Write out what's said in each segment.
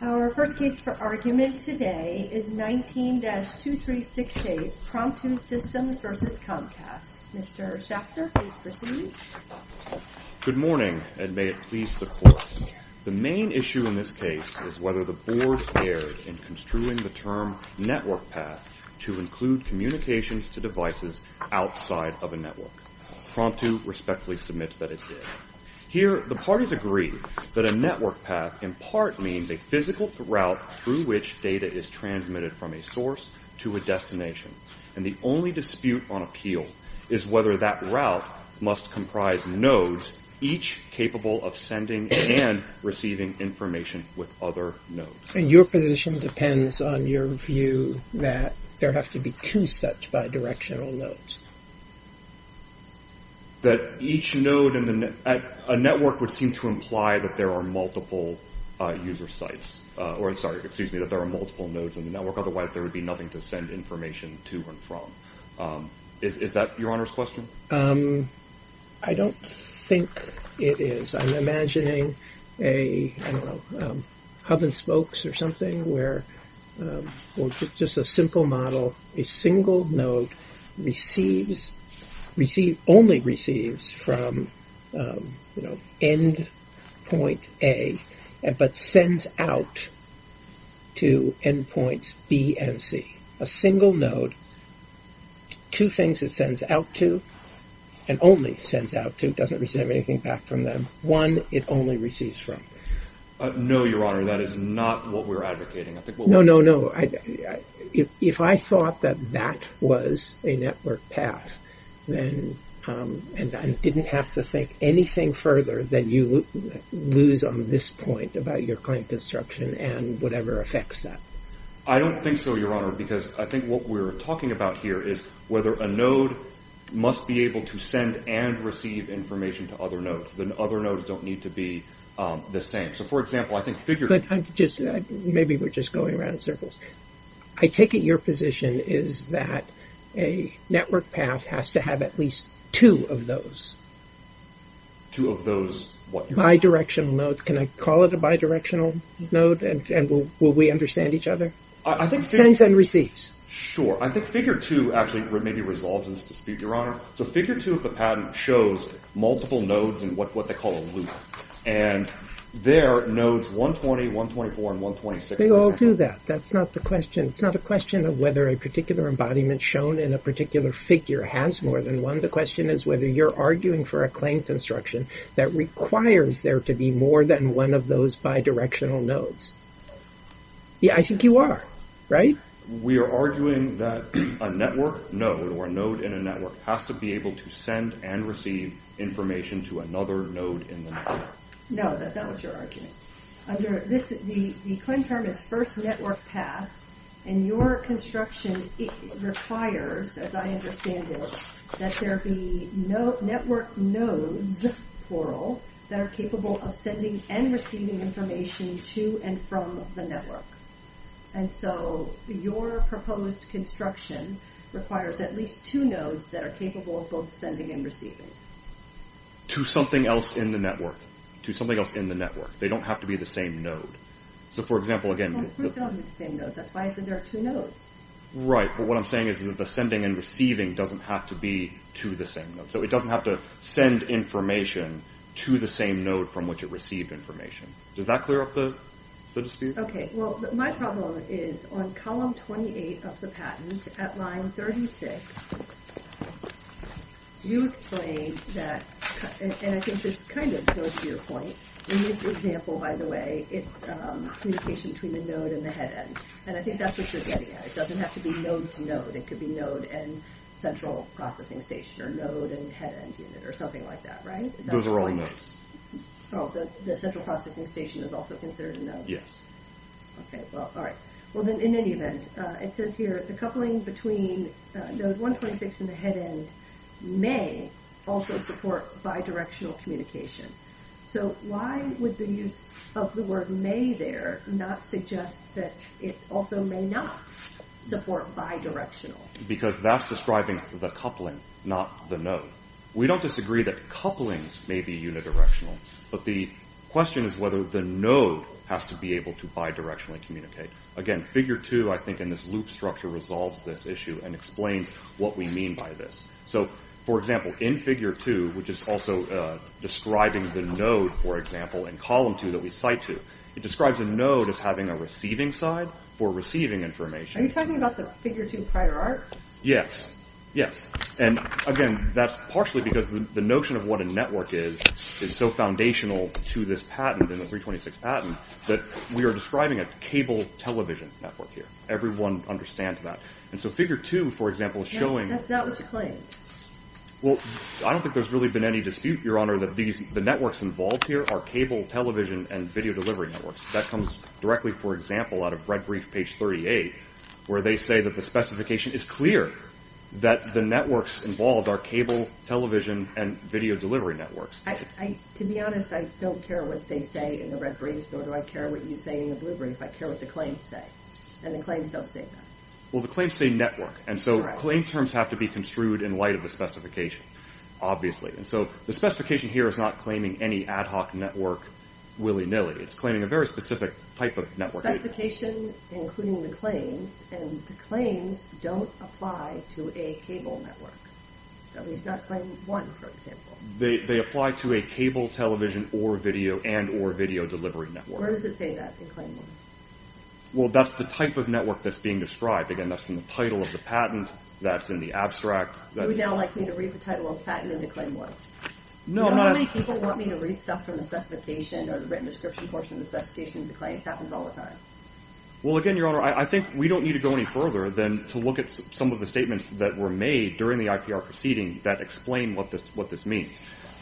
Our first case for argument today is 19-2368, Promptu Systems v. Comcast. Mr. Schachter, please proceed. Good morning, and may it please the Court. The main issue in this case is whether the Board dared in construing the term network path to include communications to devices outside of a network. Promptu respectfully submits that it did. Here, the parties agree that a network path in part means a physical route through which data is transmitted from a source to a destination, and the only dispute on appeal is whether that route must comprise nodes, each capable of sending and receiving information with other nodes. Your position depends on your view that there have to be two such bidirectional nodes. That each node in the network would seem to imply that there are multiple user sites, or, sorry, excuse me, that there are multiple nodes in the network, otherwise there would be nothing to send information to and from. Is that Your Honor's question? I don't think it is. I'm imagining a hub and spokes or something where just a simple model, a single node only receives from end point A but sends out to end points B and C. A single node, two things it sends out to and only sends out to, doesn't receive anything back from them. One, it only receives from. No, Your Honor, that is not what we're advocating. No, no, no. If I thought that that was a network path, then I didn't have to think anything further than you lose on this point about your claim construction and whatever affects that. I don't think so, Your Honor, because I think what we're talking about here is whether a node must be able to send and receive information to other nodes. The other nodes don't need to be the same. Maybe we're just going around in circles. I take it your position is that a network path has to have at least two of those. Two of those what? Bidirectional nodes. Can I call it a bidirectional node and will we understand each other? I think it sends and receives. Sure. I think figure two actually maybe resolves this dispute, Your Honor. Figure two of the patent shows multiple nodes and what they call a loop. There are nodes 120, 124, and 126. They all do that. That's not the question. It's not a question of whether a particular embodiment shown in a particular figure has more than one. The question is whether you're arguing for a claim construction that requires there to be more than one of those bidirectional nodes. I think you are, right? We are arguing that a network node or a node in a network has to be able to send and receive information to another node in the network. No, that's not what you're arguing. The claim term is first network path, and your construction requires, as I understand it, that there be network nodes, plural, that are capable of sending and receiving information to and from the network. Your proposed construction requires at least two nodes that are capable of both sending and receiving. To something else in the network. To something else in the network. They don't have to be the same node. Of course they don't have to be the same node. That's why I said there are two nodes. Right, but what I'm saying is that the sending and receiving doesn't have to be to the same node. It doesn't have to send information to the same node from which it received information. Does that clear up the dispute? Okay, well, my problem is on column 28 of the patent at line 36, you explained that, and I think this kind of goes to your point, in this example, by the way, it's communication between the node and the head end. And I think that's what you're getting at. It doesn't have to be node to node. It could be node and central processing station, or node and head end unit, or something like that, right? Those are all nodes. Oh, the central processing station is also considered a node. Yes. Okay, well, all right. Well, then, in any event, it says here, the coupling between node 126 and the head end may also support bidirectional communication. So why would the use of the word may there not suggest that it also may not support bidirectional? Because that's describing the coupling, not the node. We don't disagree that couplings may be unidirectional, but the question is whether the node has to be able to bidirectionally communicate. Again, figure two, I think, in this loop structure, resolves this issue and explains what we mean by this. So, for example, in figure two, which is also describing the node, for example, in column two that we cite to, it describes a node as having a receiving side for receiving information. Are you talking about the figure two prior art? Yes. Yes. And, again, that's partially because the notion of what a network is is so foundational to this patent, in the 326 patent, that we are describing a cable television network here. Everyone understands that. And so figure two, for example, is showing... That's not what you claim. Well, I don't think there's really been any dispute, Your Honor, that the networks involved here are cable television and video delivery networks. That comes directly, for example, out of Red Brief, page 38, where they say that the specification is clear that the networks involved are cable television and video delivery networks. To be honest, I don't care what they say in the Red Brief, nor do I care what you say in the Blue Brief. I care what the claims say, and the claims don't say that. Well, the claims say network, and so claim terms have to be construed in light of the specification, obviously. And so the specification here is not claiming any ad hoc network willy-nilly. It's claiming a very specific type of network. The specification, including the claims, and the claims don't apply to a cable network. At least not claim one, for example. They apply to a cable television and or video delivery network. Where does it say that in claim one? Well, that's the type of network that's being described. Again, that's in the title of the patent. That's in the abstract. You would now like me to read the title of the patent in the claim one? No, I'm not asking. Normally, people want me to read stuff from the specification or the written description portion of the specification of the claims. It happens all the time. Well, again, Your Honor, I think we don't need to go any further than to look at some of the statements that were made during the IPR proceeding that explain what this means.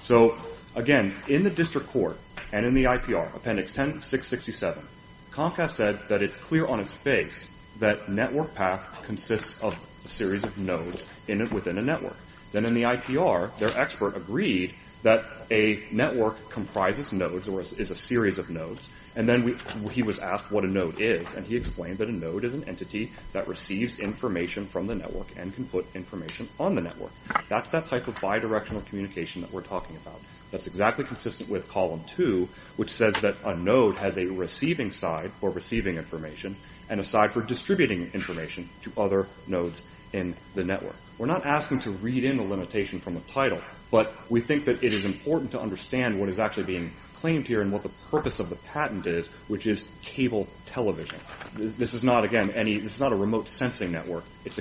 So, again, in the district court and in the IPR, appendix 10667, Comcast said that it's clear on its face that network path consists of a series of nodes within a network. Then in the IPR, their expert agreed that a network comprises nodes or is a series of nodes, and then he was asked what a node is, and he explained that a node is an entity that receives information from the network and can put information on the network. That's that type of bidirectional communication that we're talking about. That's exactly consistent with column two, which says that a node has a receiving side for receiving information and a side for distributing information to other nodes in the network. We're not asking to read in a limitation from the title, but we think that it is important to understand what is actually being claimed here and what the purpose of the patent is, which is cable television. This is not, again, a remote sensing network. It's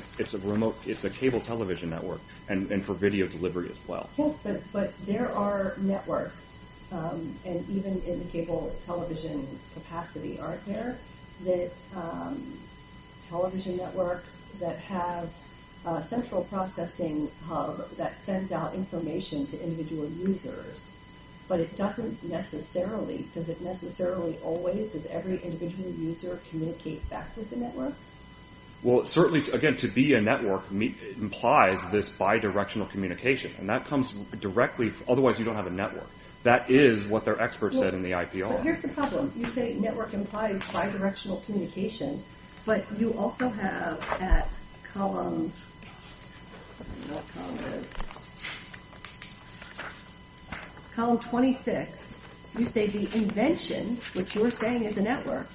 a cable television network and for video delivery as well. Yes, but there are networks, and even in the cable television capacity aren't there, that television networks that have a central processing hub that sends out information to individual users, but it doesn't necessarily, does it necessarily always, does every individual user communicate back with the network? Well, certainly, again, to be a network implies this bidirectional communication, and that comes directly, otherwise you don't have a network. That is what their experts said in the IPR. Here's the problem. You say network implies bidirectional communication, but you also have at column, I don't know what column it is, column 26, you say the invention, which you're saying is a network,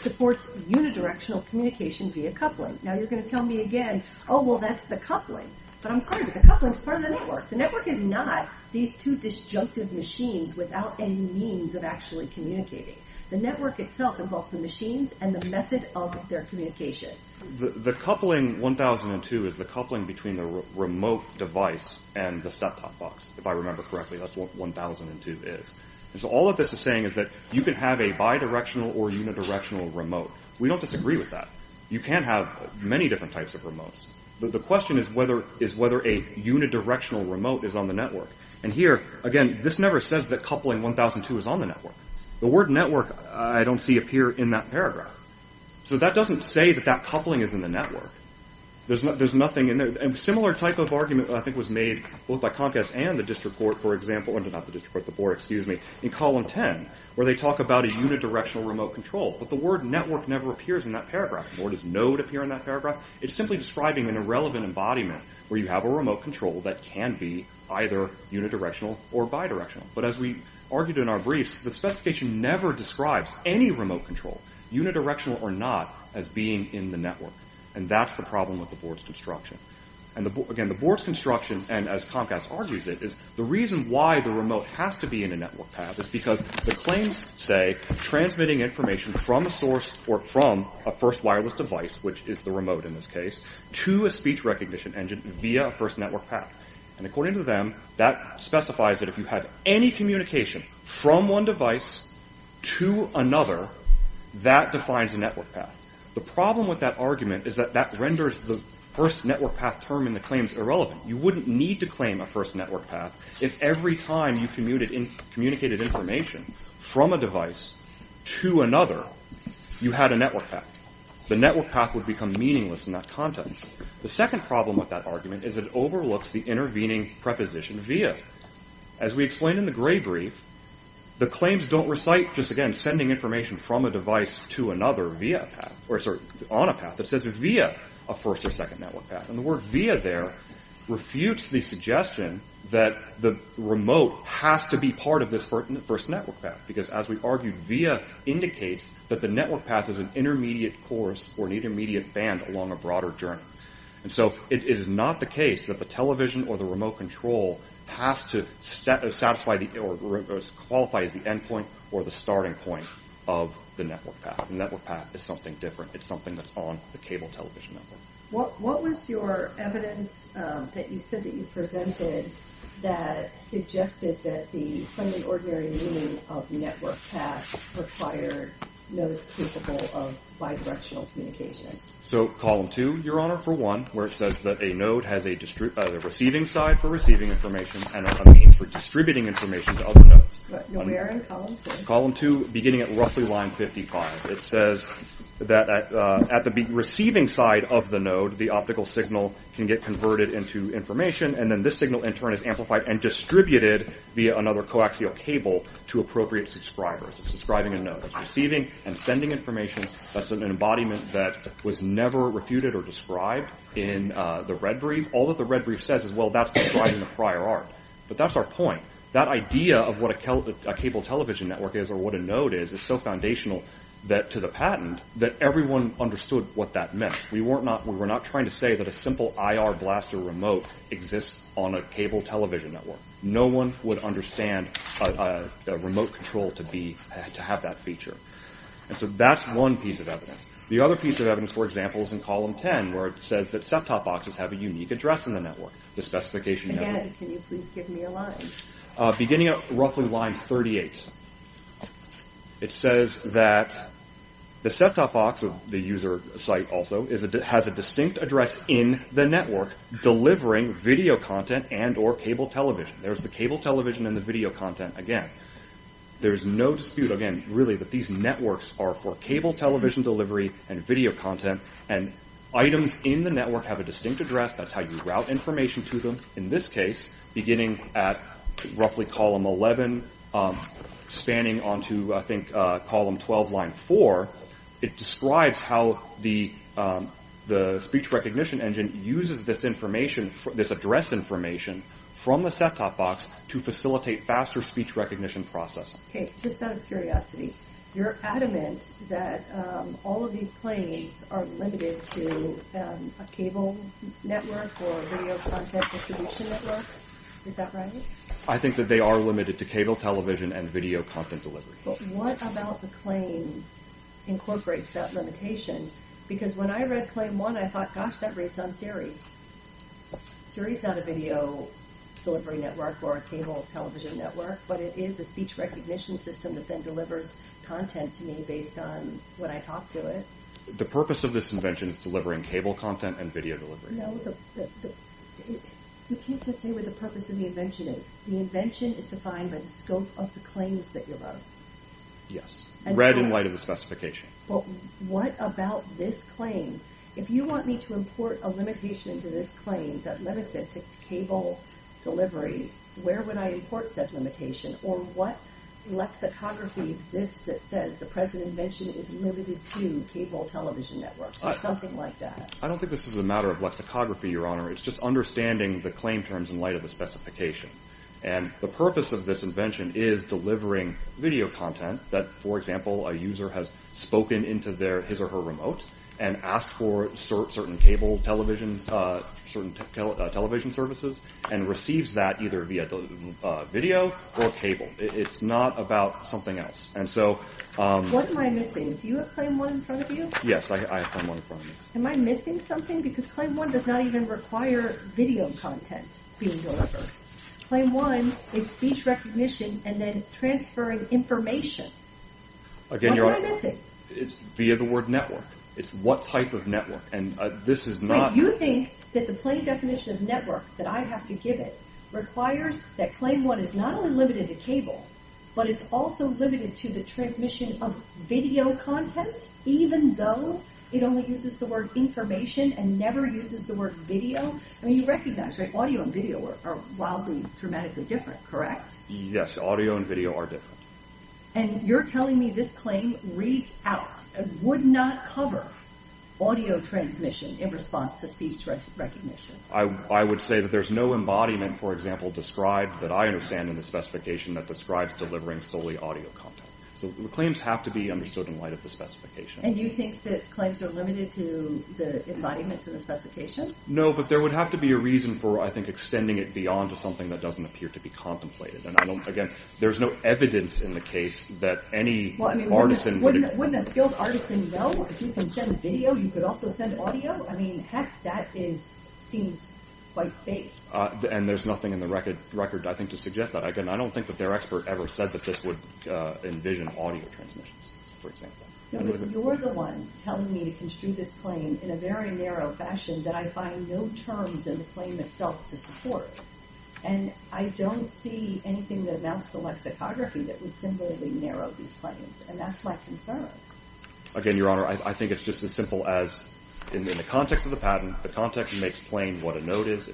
supports unidirectional communication via coupling. Now you're going to tell me again, oh, well, that's the coupling, but I'm sorry, the coupling is part of the network. The network is not these two disjunctive machines without any means of actually communicating. The network itself involves the machines and the method of their communication. The coupling 1002 is the coupling between the remote device and the set-top box, if I remember correctly, that's what 1002 is. So all of this is saying is that you can have a bidirectional or unidirectional remote. We don't disagree with that. You can have many different types of remotes. The question is whether a unidirectional remote is on the network. And here, again, this never says that coupling 1002 is on the network. The word network I don't see appear in that paragraph. So that doesn't say that that coupling is in the network. There's nothing in there. A similar type of argument, I think, was made both by Comcast and the district court, in column 10, where they talk about a unidirectional remote control. But the word network never appears in that paragraph. Nor does node appear in that paragraph. It's simply describing an irrelevant embodiment where you have a remote control that can be either unidirectional or bidirectional. But as we argued in our briefs, the specification never describes any remote control, unidirectional or not, as being in the network. And that's the problem with the board's construction. Again, the board's construction, and as Comcast argues it, is the reason why the remote has to be in a network path is because the claims say transmitting information from a source or from a first wireless device, which is the remote in this case, to a speech recognition engine via a first network path. And according to them, that specifies that if you have any communication from one device to another, that defines a network path. The problem with that argument is that that renders the first network path term in the claims irrelevant. You wouldn't need to claim a first network path if every time you communicated information from a device to another, you had a network path. The network path would become meaningless in that context. The second problem with that argument is it overlooks the intervening preposition via. As we explained in the gray brief, the claims don't recite, just again, sending information from a device to another on a path that says via a first or second network path. And the word via there refutes the suggestion that the remote has to be part of this first network path, because as we argued, via indicates that the network path is an intermediate course or an intermediate band along a broader journey. And so it is not the case that the television or the remote control has to qualify as the endpoint or the starting point of the network path. The network path is something different. It's something that's on the cable television network. What was your evidence that you said that you presented that suggested that the plain and ordinary meaning of network paths required nodes capable of bidirectional communication? So column two, Your Honor, for one, where it says that a node has a receiving side for receiving information and a means for distributing information to other nodes. Where in column two? Column two, beginning at roughly line 55. It says that at the receiving side of the node, the optical signal can get converted into information, and then this signal in turn is amplified and distributed via another coaxial cable to appropriate subscribers. It's describing a node that's receiving and sending information. That's an embodiment that was never refuted or described in the red brief. All that the red brief says is, well, that's describing the prior art. But that's our point. That idea of what a cable television network is or what a node is is so foundational to the patent that everyone understood what that meant. We were not trying to say that a simple IR blaster remote exists on a cable television network. No one would understand a remote control to have that feature. And so that's one piece of evidence. The other piece of evidence, for example, is in column 10, where it says that ceptop boxes have a unique address in the network. The specification network. Again, can you please give me a line? Beginning at roughly line 38, it says that the ceptop box, the user site also, has a distinct address in the network delivering video content and or cable television. There's the cable television and the video content again. There's no dispute, again, really, that these networks are for cable television delivery and video content. And items in the network have a distinct address. That's how you route information to them. In this case, beginning at roughly column 11, spanning onto, I think, column 12, line 4, it describes how the speech recognition engine uses this address information from the ceptop box to facilitate faster speech recognition processing. Okay, just out of curiosity, you're adamant that all of these claims are limited to a cable network or video content distribution network? Is that right? I think that they are limited to cable television and video content delivery. What about the claim incorporates that limitation? Because when I read claim 1, I thought, gosh, that reads on Siri. Siri's not a video delivery network or a cable television network, but it is a speech recognition system that then delivers content to me based on when I talk to it. The purpose of this invention is delivering cable content and video delivery. No, you can't just say what the purpose of the invention is. The invention is defined by the scope of the claims that you love. Yes, read in light of the specification. But what about this claim? If you want me to import a limitation into this claim that limits it to cable delivery, where would I import said limitation? Or what lexicography exists that says the present invention is limited to cable television networks or something like that? I don't think this is a matter of lexicography, Your Honor. It's just understanding the claim terms in light of the specification. And the purpose of this invention is delivering video content that, for example, a user has spoken into his or her remote and asked for certain cable television services and receives that either via video or cable. It's not about something else. What am I missing? Do you have Claim 1 in front of you? Yes, I have Claim 1 in front of me. Am I missing something? Because Claim 1 does not even require video content being delivered. What am I missing? It's via the word network. It's what type of network. You think that the plain definition of network that I have to give it requires that Claim 1 is not only limited to cable, but it's also limited to the transmission of video content even though it only uses the word information and never uses the word video? I mean, you recognize, right? Audio and video are wildly, dramatically different, correct? Yes, audio and video are different. And you're telling me this claim reads out and would not cover audio transmission in response to speech recognition? I would say that there's no embodiment, for example, described that I understand in the specification that describes delivering solely audio content. So the claims have to be understood in light of the specification. And you think that claims are limited to the embodiments in the specification? No, but there would have to be a reason for, I think, extending it beyond to something that doesn't appear to be contemplated. And again, there's no evidence in the case that any artisan would... Wouldn't a skilled artisan know if you can send video, you could also send audio? I mean, heck, that seems quite vague. And there's nothing in the record, I think, to suggest that. I don't think that their expert ever said that this would envision audio transmissions, for example. No, but you're the one telling me to construe this claim in a very narrow fashion that I find no terms in the claim itself to support. And I don't see anything that amounts to lexicography that would simply narrow these claims. And that's my concern. Again, Your Honor, I think it's just as simple as, in the context of the patent, the context makes plain what a note is.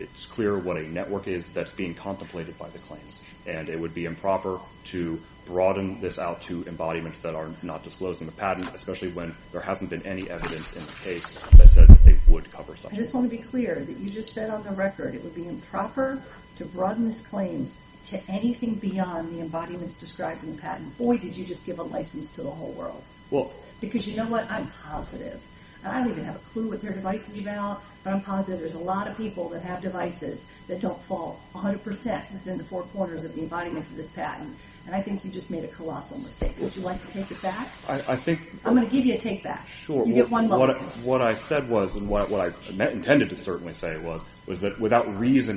It's clear what a network is that's being contemplated by the claims. And it would be improper to broaden this out to embodiments that are not disclosed in the patent, especially when there hasn't been any evidence in the case that says that they would cover such a network. I just want to be clear that you just said on the record it would be improper to broaden this claim to anything beyond the embodiments described in the patent. Boy, did you just give a license to the whole world. Because you know what? I'm positive. And I don't even have a clue what their device is about, but I'm positive there's a lot of people that have devices that don't fall 100% within the four corners of the embodiments of this patent. And I think you just made a colossal mistake. Would you like to take it back? I'm going to give you a take back. Sure. What I said was, and what I intended to certainly say was, was that without a reason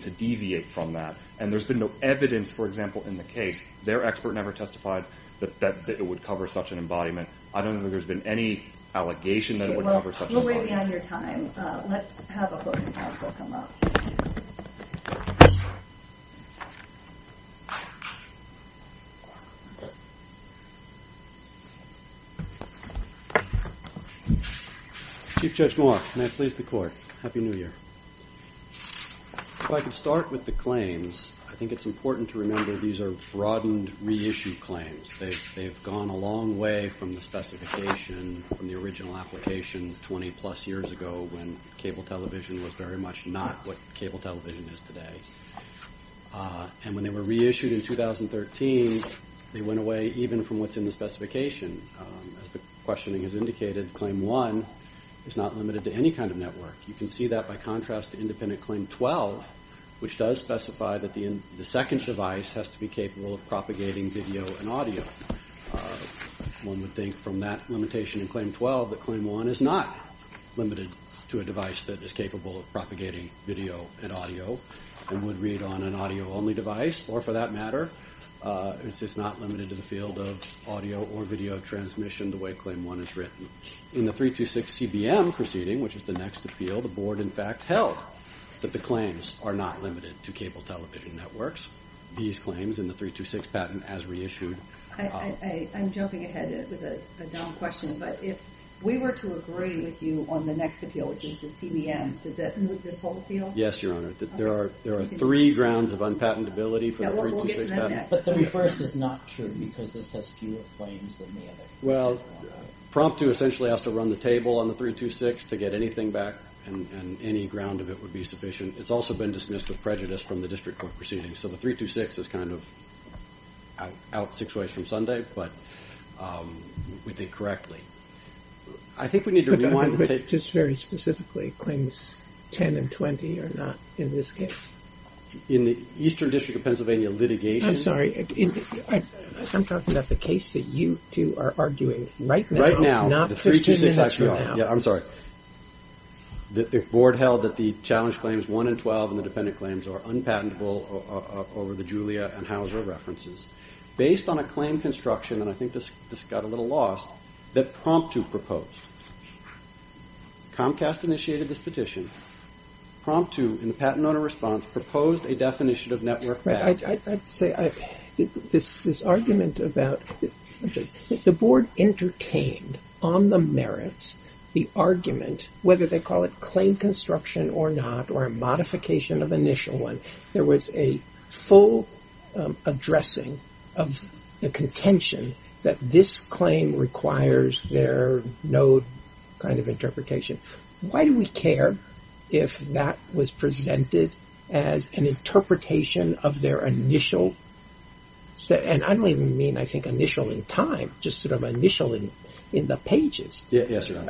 to deviate from that, and there's been no evidence, for example, in the case, their expert never testified that it would cover such an embodiment. I don't think there's been any allegation that it would cover such an embodiment. We're way beyond your time. Let's have a closing counsel come up. Chief Judge Moore, may I please the court? Happy New Year. If I could start with the claims, I think it's important to remember these are broadened reissue claims. They've gone a long way from the specification, from the original application 20-plus years ago when cable television was very much not what cable television is today. And when they were reissued in 2013, they went away even from what's in the specification. As the questioning has indicated, Claim 1 is not limited to any kind of network. You can see that by contrast to Independent Claim 12, which does specify that the second device has to be capable of propagating video and audio. One would think from that limitation in Claim 12 that Claim 1 is not limited to a device that is capable of propagating video and audio and would read on an audio-only device, or for that matter. It's just not limited to the field of audio or video transmission the way Claim 1 is written. In the 326CBM proceeding, which is the next appeal, the board in fact held that the claims are not limited to cable television networks. These claims in the 326 patent as reissued... I'm jumping ahead with a dumb question, but if we were to agree with you on the next appeal, which is the CBM, does that move this whole appeal? Yes, Your Honor. There are three grounds of unpatentability for the 326 patent. But 31st is not true because this has fewer claims than the other. Well, Prompto essentially has to run the table on the 326 to get anything back, and any ground of it would be sufficient. It's also been dismissed with prejudice from the district court proceedings. So the 326 is kind of out six ways from Sunday, but we think correctly. I think we need to rewind the tape. Just very specifically, claims 10 and 20 are not in this case? In the Eastern District of Pennsylvania litigation... I'm sorry. I'm talking about the case that you two are arguing right now. Right now. Not 15 minutes from now. I'm sorry. The board held that the challenge claims 1 and 12 and the dependent claims are unpatentable over the Julia and Hauser references. Based on a claim construction, and I think this got a little lost, that Prompto proposed. Comcast initiated this petition. Prompto, in the patent owner response, proposed a definition of network... I'd say this argument about... The board entertained on the merits the argument, whether they call it claim construction or not, or a modification of initial one, there was a full addressing of the contention that this claim requires their no kind of interpretation. Why do we care if that was presented as an interpretation of their initial... I don't even mean initial in time, just initial in the pages. Yes, sir.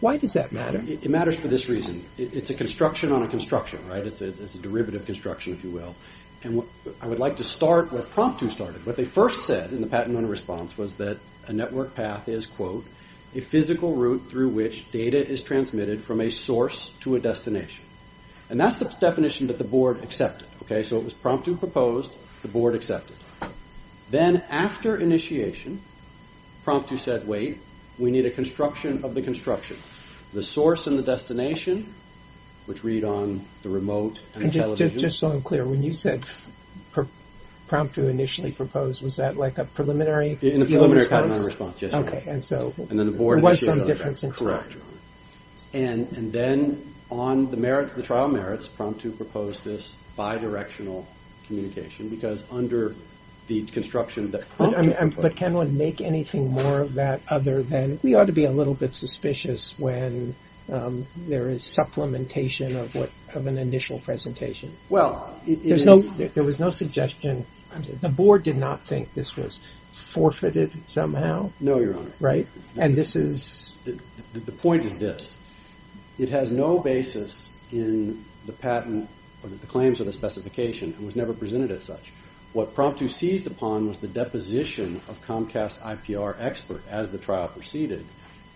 Why does that matter? It matters for this reason. It's a construction on a construction. It's a derivative construction, if you will. I would like to start where Prompto started. What they first said in the patent owner response was that a network path is, I quote, a physical route through which data is transmitted from a source to a destination. And that's the definition that the board accepted. So it was Prompto proposed, the board accepted. Then after initiation, Prompto said, wait, we need a construction of the construction. The source and the destination, which read on the remote... Just so I'm clear, when you said Prompto initially proposed, was that like a preliminary... In the preliminary response, yes. And then the board... There was some difference in time. Correct. And then on the merits, the trial merits, Prompto proposed this bidirectional communication because under the construction that... But can one make anything more of that other than we ought to be a little bit suspicious when there is supplementation of an initial presentation. Well, it is... There was no suggestion. The board did not think this was forfeited somehow. No, Your Honor. Right? And this is... The point is this. It has no basis in the patent or the claims or the specification and was never presented as such. What Prompto seized upon was the deposition of Comcast IPR expert as the trial proceeded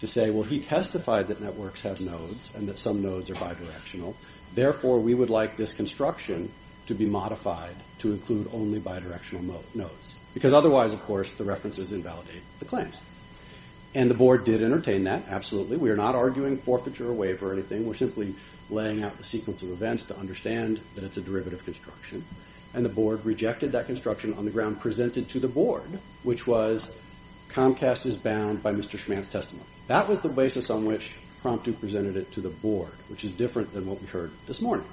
to say, well, he testified that networks have nodes and that some nodes are bidirectional. Therefore, we would like this construction to be modified to include only bidirectional nodes because otherwise, of course, the references invalidate the claims. And the board did entertain that, absolutely. We are not arguing forfeiture or waiver or anything. We're simply laying out the sequence of events to understand that it's a derivative construction. And the board rejected that construction on the ground presented to the board, which was Comcast is bound by Mr. Schman's testimony. That was the basis on which Prompto presented it to the board, which is different than what we heard this morning.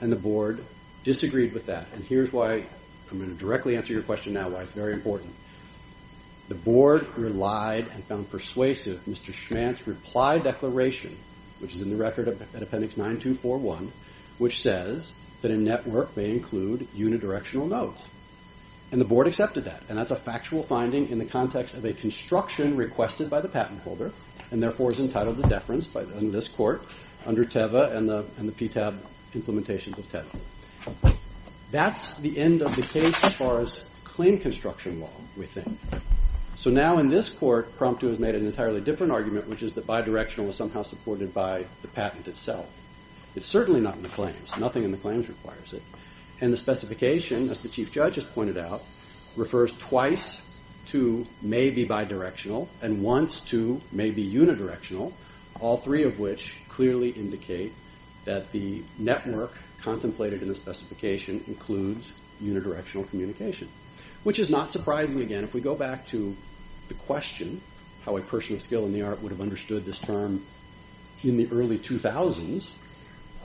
And the board disagreed with that. And here's why I'm going to directly answer your question now why it's very important. The board relied and found persuasive Mr. Schman's reply declaration, which is in the record at appendix 9241, which says that a network may include unidirectional nodes. And the board accepted that. And that's a factual finding in the context of a construction requested by the patent holder and therefore is entitled to deference in this court under TEVA and the PTAB implementations of TEVA. That's the end of the case as far as claim construction law, we think. So now in this court, Prompto has made an entirely different argument, which is that bidirectional was somehow supported by the patent itself. It's certainly not in the claims. Nothing in the claims requires it. And the specification, as the chief judge has pointed out, refers twice to maybe bidirectional and once to maybe unidirectional, all three of which clearly indicate that the network contemplated in the specification includes unidirectional communication, which is not surprising again. If we go back to the question, how a person of skill in the art would have understood this term in the early 2000s,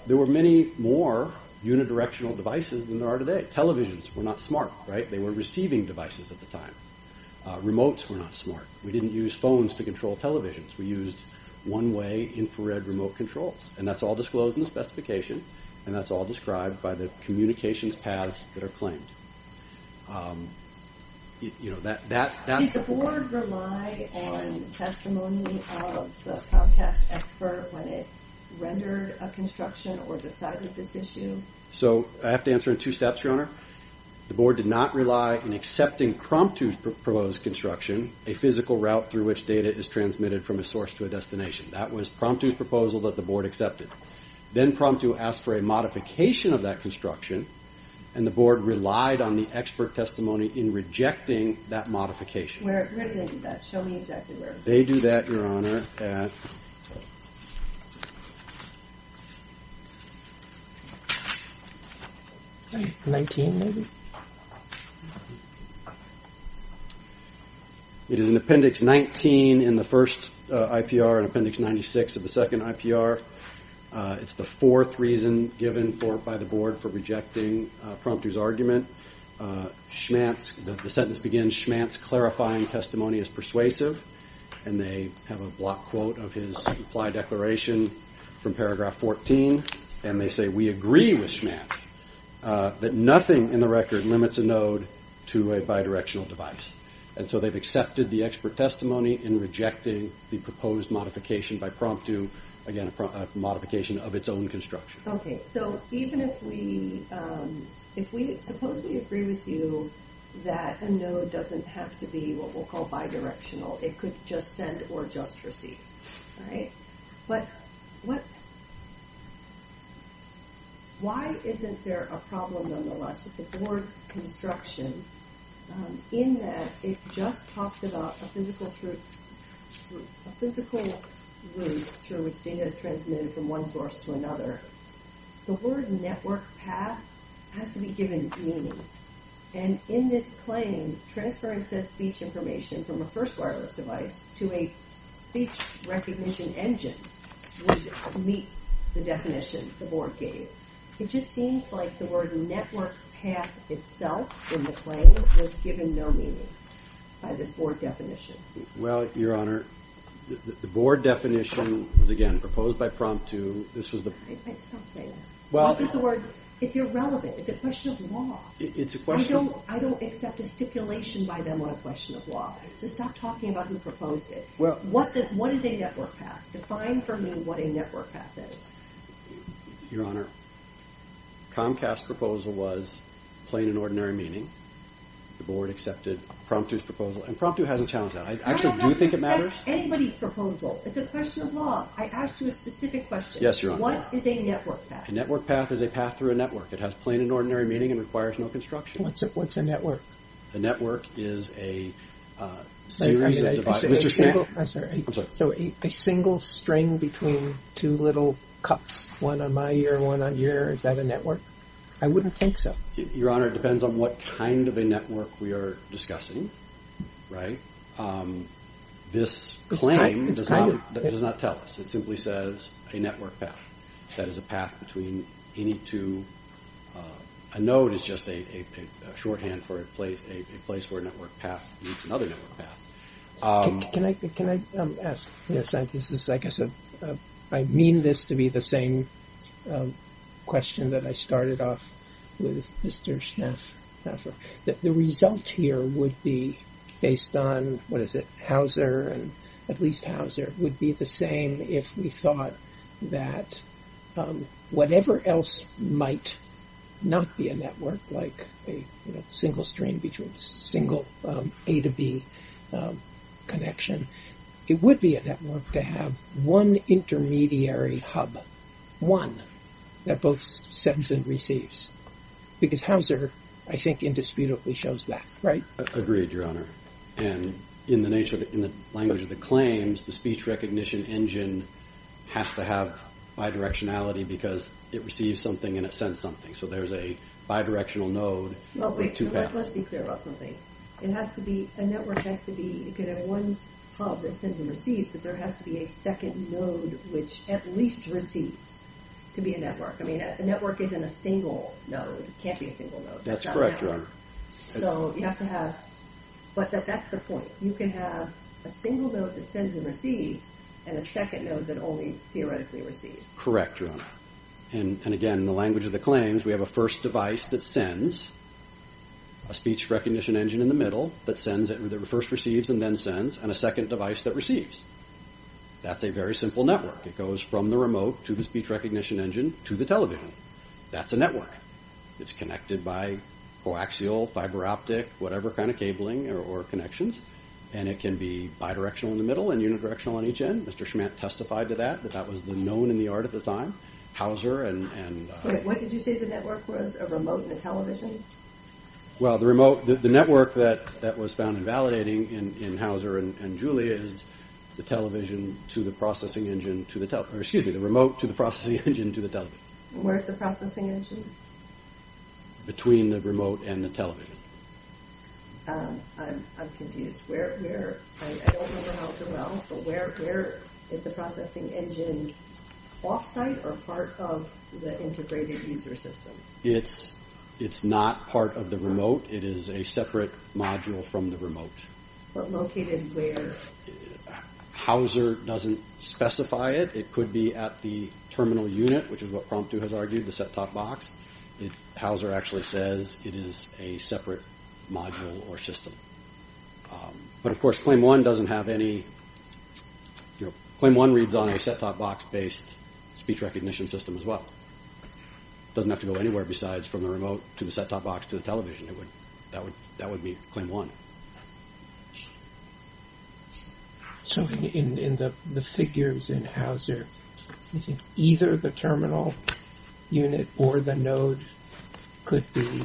there were many more unidirectional devices than there are today. Televisions were not smart, right? They were receiving devices at the time. Remotes were not smart. We didn't use phones to control televisions. We used one-way infrared remote controls, and that's all disclosed in the specification, and that's all described by the communications paths that are claimed. You know, that's... Did the board rely on testimony of the Comcast expert when it rendered a construction or decided this issue? So I have to answer in two steps, Your Honor. The board did not rely on accepting Prompto's proposed construction, a physical route through which data is transmitted from a source to a destination. That was Prompto's proposal that the board accepted. Then Prompto asked for a modification of that construction, and the board relied on the expert testimony in rejecting that modification. Where did they do that? Show me exactly where. They do that, Your Honor, at... 19, maybe? It is in Appendix 19 in the first IPR and Appendix 96 of the second IPR. It's the fourth reason given by the board for rejecting Prompto's argument. Schmantz, the sentence begins, Schmantz clarifying testimony is persuasive, and they have a block quote of his supply declaration from paragraph 14, and they say, we agree with Schmantz that nothing in the record limits a node to a bidirectional device. And so they've accepted the expert testimony in rejecting the proposed modification by Prompto, again, a modification of its own construction. Okay, so even if we, suppose we agree with you that a node doesn't have to be what we'll call bidirectional. It could just send or just receive, right? But what... Why isn't there a problem, nonetheless, with the board's construction in that it just talks about a physical route through which data is transmitted from one source to another? The word network path has to be given meaning, and in this claim, transferring said speech information from a first wireless device to a speech recognition engine would meet the definition the board gave. It just seems like the word network path itself in the claim was given no meaning by this board definition. Well, Your Honor, the board definition was, again, proposed by Prompto. Stop saying that. It's irrelevant. It's a question of law. I don't accept a stipulation by them on a question of law. Just stop talking about who proposed it. What is a network path? Define for me what a network path is. Your Honor, Comcast's proposal was plain and ordinary meaning. The board accepted Prompto's proposal, and Prompto hasn't challenged that. I actually do think it matters. I don't accept anybody's proposal. It's a question of law. I asked you a specific question. What is a network path? A network path is a path through a network. It has plain and ordinary meaning and requires no construction. What's a network? A network is a series of... I'm sorry. A single string between two little cups. One on my ear, one on your ear. Is that a network? I wouldn't think so. Your Honor, it depends on what kind of a network we are discussing. This claim does not tell us. It simply says a network path. That is a path between any two A node is just a shorthand for a place where a network path meets another network path. Can I ask? I mean this to be the same question that I started off with Mr. Schnaffer. The result here would be based on, what is it, Hauser, at least Hauser, would be the same if we thought that whatever else might not be a network like a single string between single A to B connection. It would be a network to have one intermediary hub. One that both sends and receives. Because Hauser, I think, indisputably shows that, right? Agreed, Your Honor. In the language of the claims, the speech recognition engine has to have bidirectionality because it receives something and it sends something. So there's a bidirectional node with two paths. Let's be clear about something. A network could have one hub that sends and receives, but there has to be a second node which at least receives to be a network. A network isn't a single node. It can't be a single node. That's correct, Your Honor. But that's the point. You can have a single node that sends and receives and a second node that only theoretically receives. Correct, Your Honor. Again, in the language of the claims, we have a first device that sends, a speech recognition engine in the middle that first receives and then sends, and a second device that receives. That's a very simple network. It goes from the remote to the speech recognition engine to the television. That's a network. It's connected by coaxial, fiber optic, whatever kind of cabling or connections. It can be bidirectional in the middle and unidirectional on each end. Mr. Schmantt testified to that. That was known in the art at the time. What did you say the network was? A remote and a television? The network that was found invalidating in Hauser and Julia is the remote to the processing engine to the television. Where is the processing engine? Between the remote and the television. I'm confused. I don't remember Hauser well, but where is the processing engine? Off-site or part of the integrated user system? It's not part of the remote. It is a separate module from the remote. But located where? Hauser doesn't specify it. It could be at the terminal unit, which is what Prompto has argued, the set-top box. Hauser actually says it is a separate module or system. Claim 1 doesn't have any... Claim 1 reads on a set-top box based speech recognition system as well. It doesn't have to go anywhere besides from the remote to the set-top box to the television. That would be Claim 1. The figures in Hauser either the terminal unit or the node could be...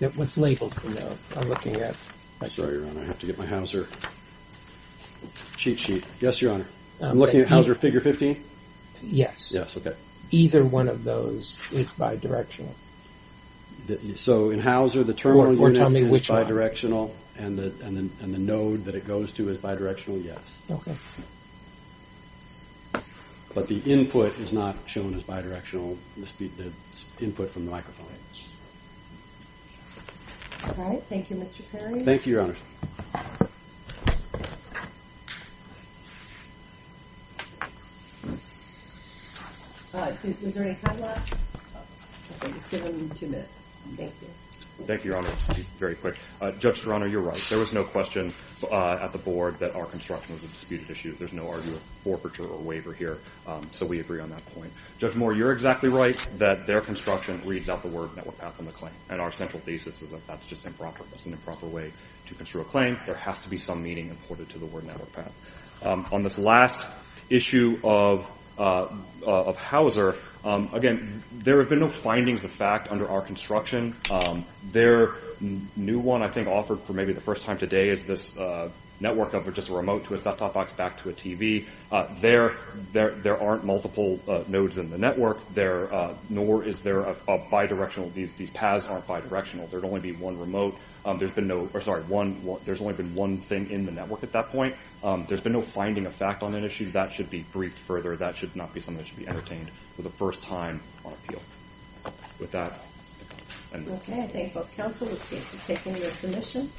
I'm looking at... I have to get my Hauser cheat sheet. I'm looking at Hauser figure 15? Yes. Either one of those is bidirectional. In Hauser, the terminal unit is bidirectional and the node that it goes to is bidirectional? Yes. But the input is not shown as bidirectional. The input from the microphone. All right. Thank you, Mr. Perry. Thank you, Your Honor. Is there any time left? Okay. Just give him two minutes. Thank you. Thank you, Your Honor. Judge Durano, you're right. There was no question at the board that our construction was a disputed issue. There's no argument for forfeiture or waiver here. We agree on that point. Judge Moore, you're exactly right that their construction reads out the word network path on the claim. Our central thesis is that that's just improper. That's an improper way to construe a claim. There has to be some meaning imported to the word network path. On this last issue of Hauser, again, there have been no findings of fact under our construction. Their new one, I think, offered for maybe the first time today is this network of just a there aren't multiple nodes in the network. Nor is there a bidirectional these paths aren't bidirectional. There'd only be one remote. There's only been one thing in the network at that point. There's been no finding of fact on that issue. That should be briefed further. That should not be something that should be entertained for the first time on appeal. With that... Okay. I thank both counsel. This case has taken your submission.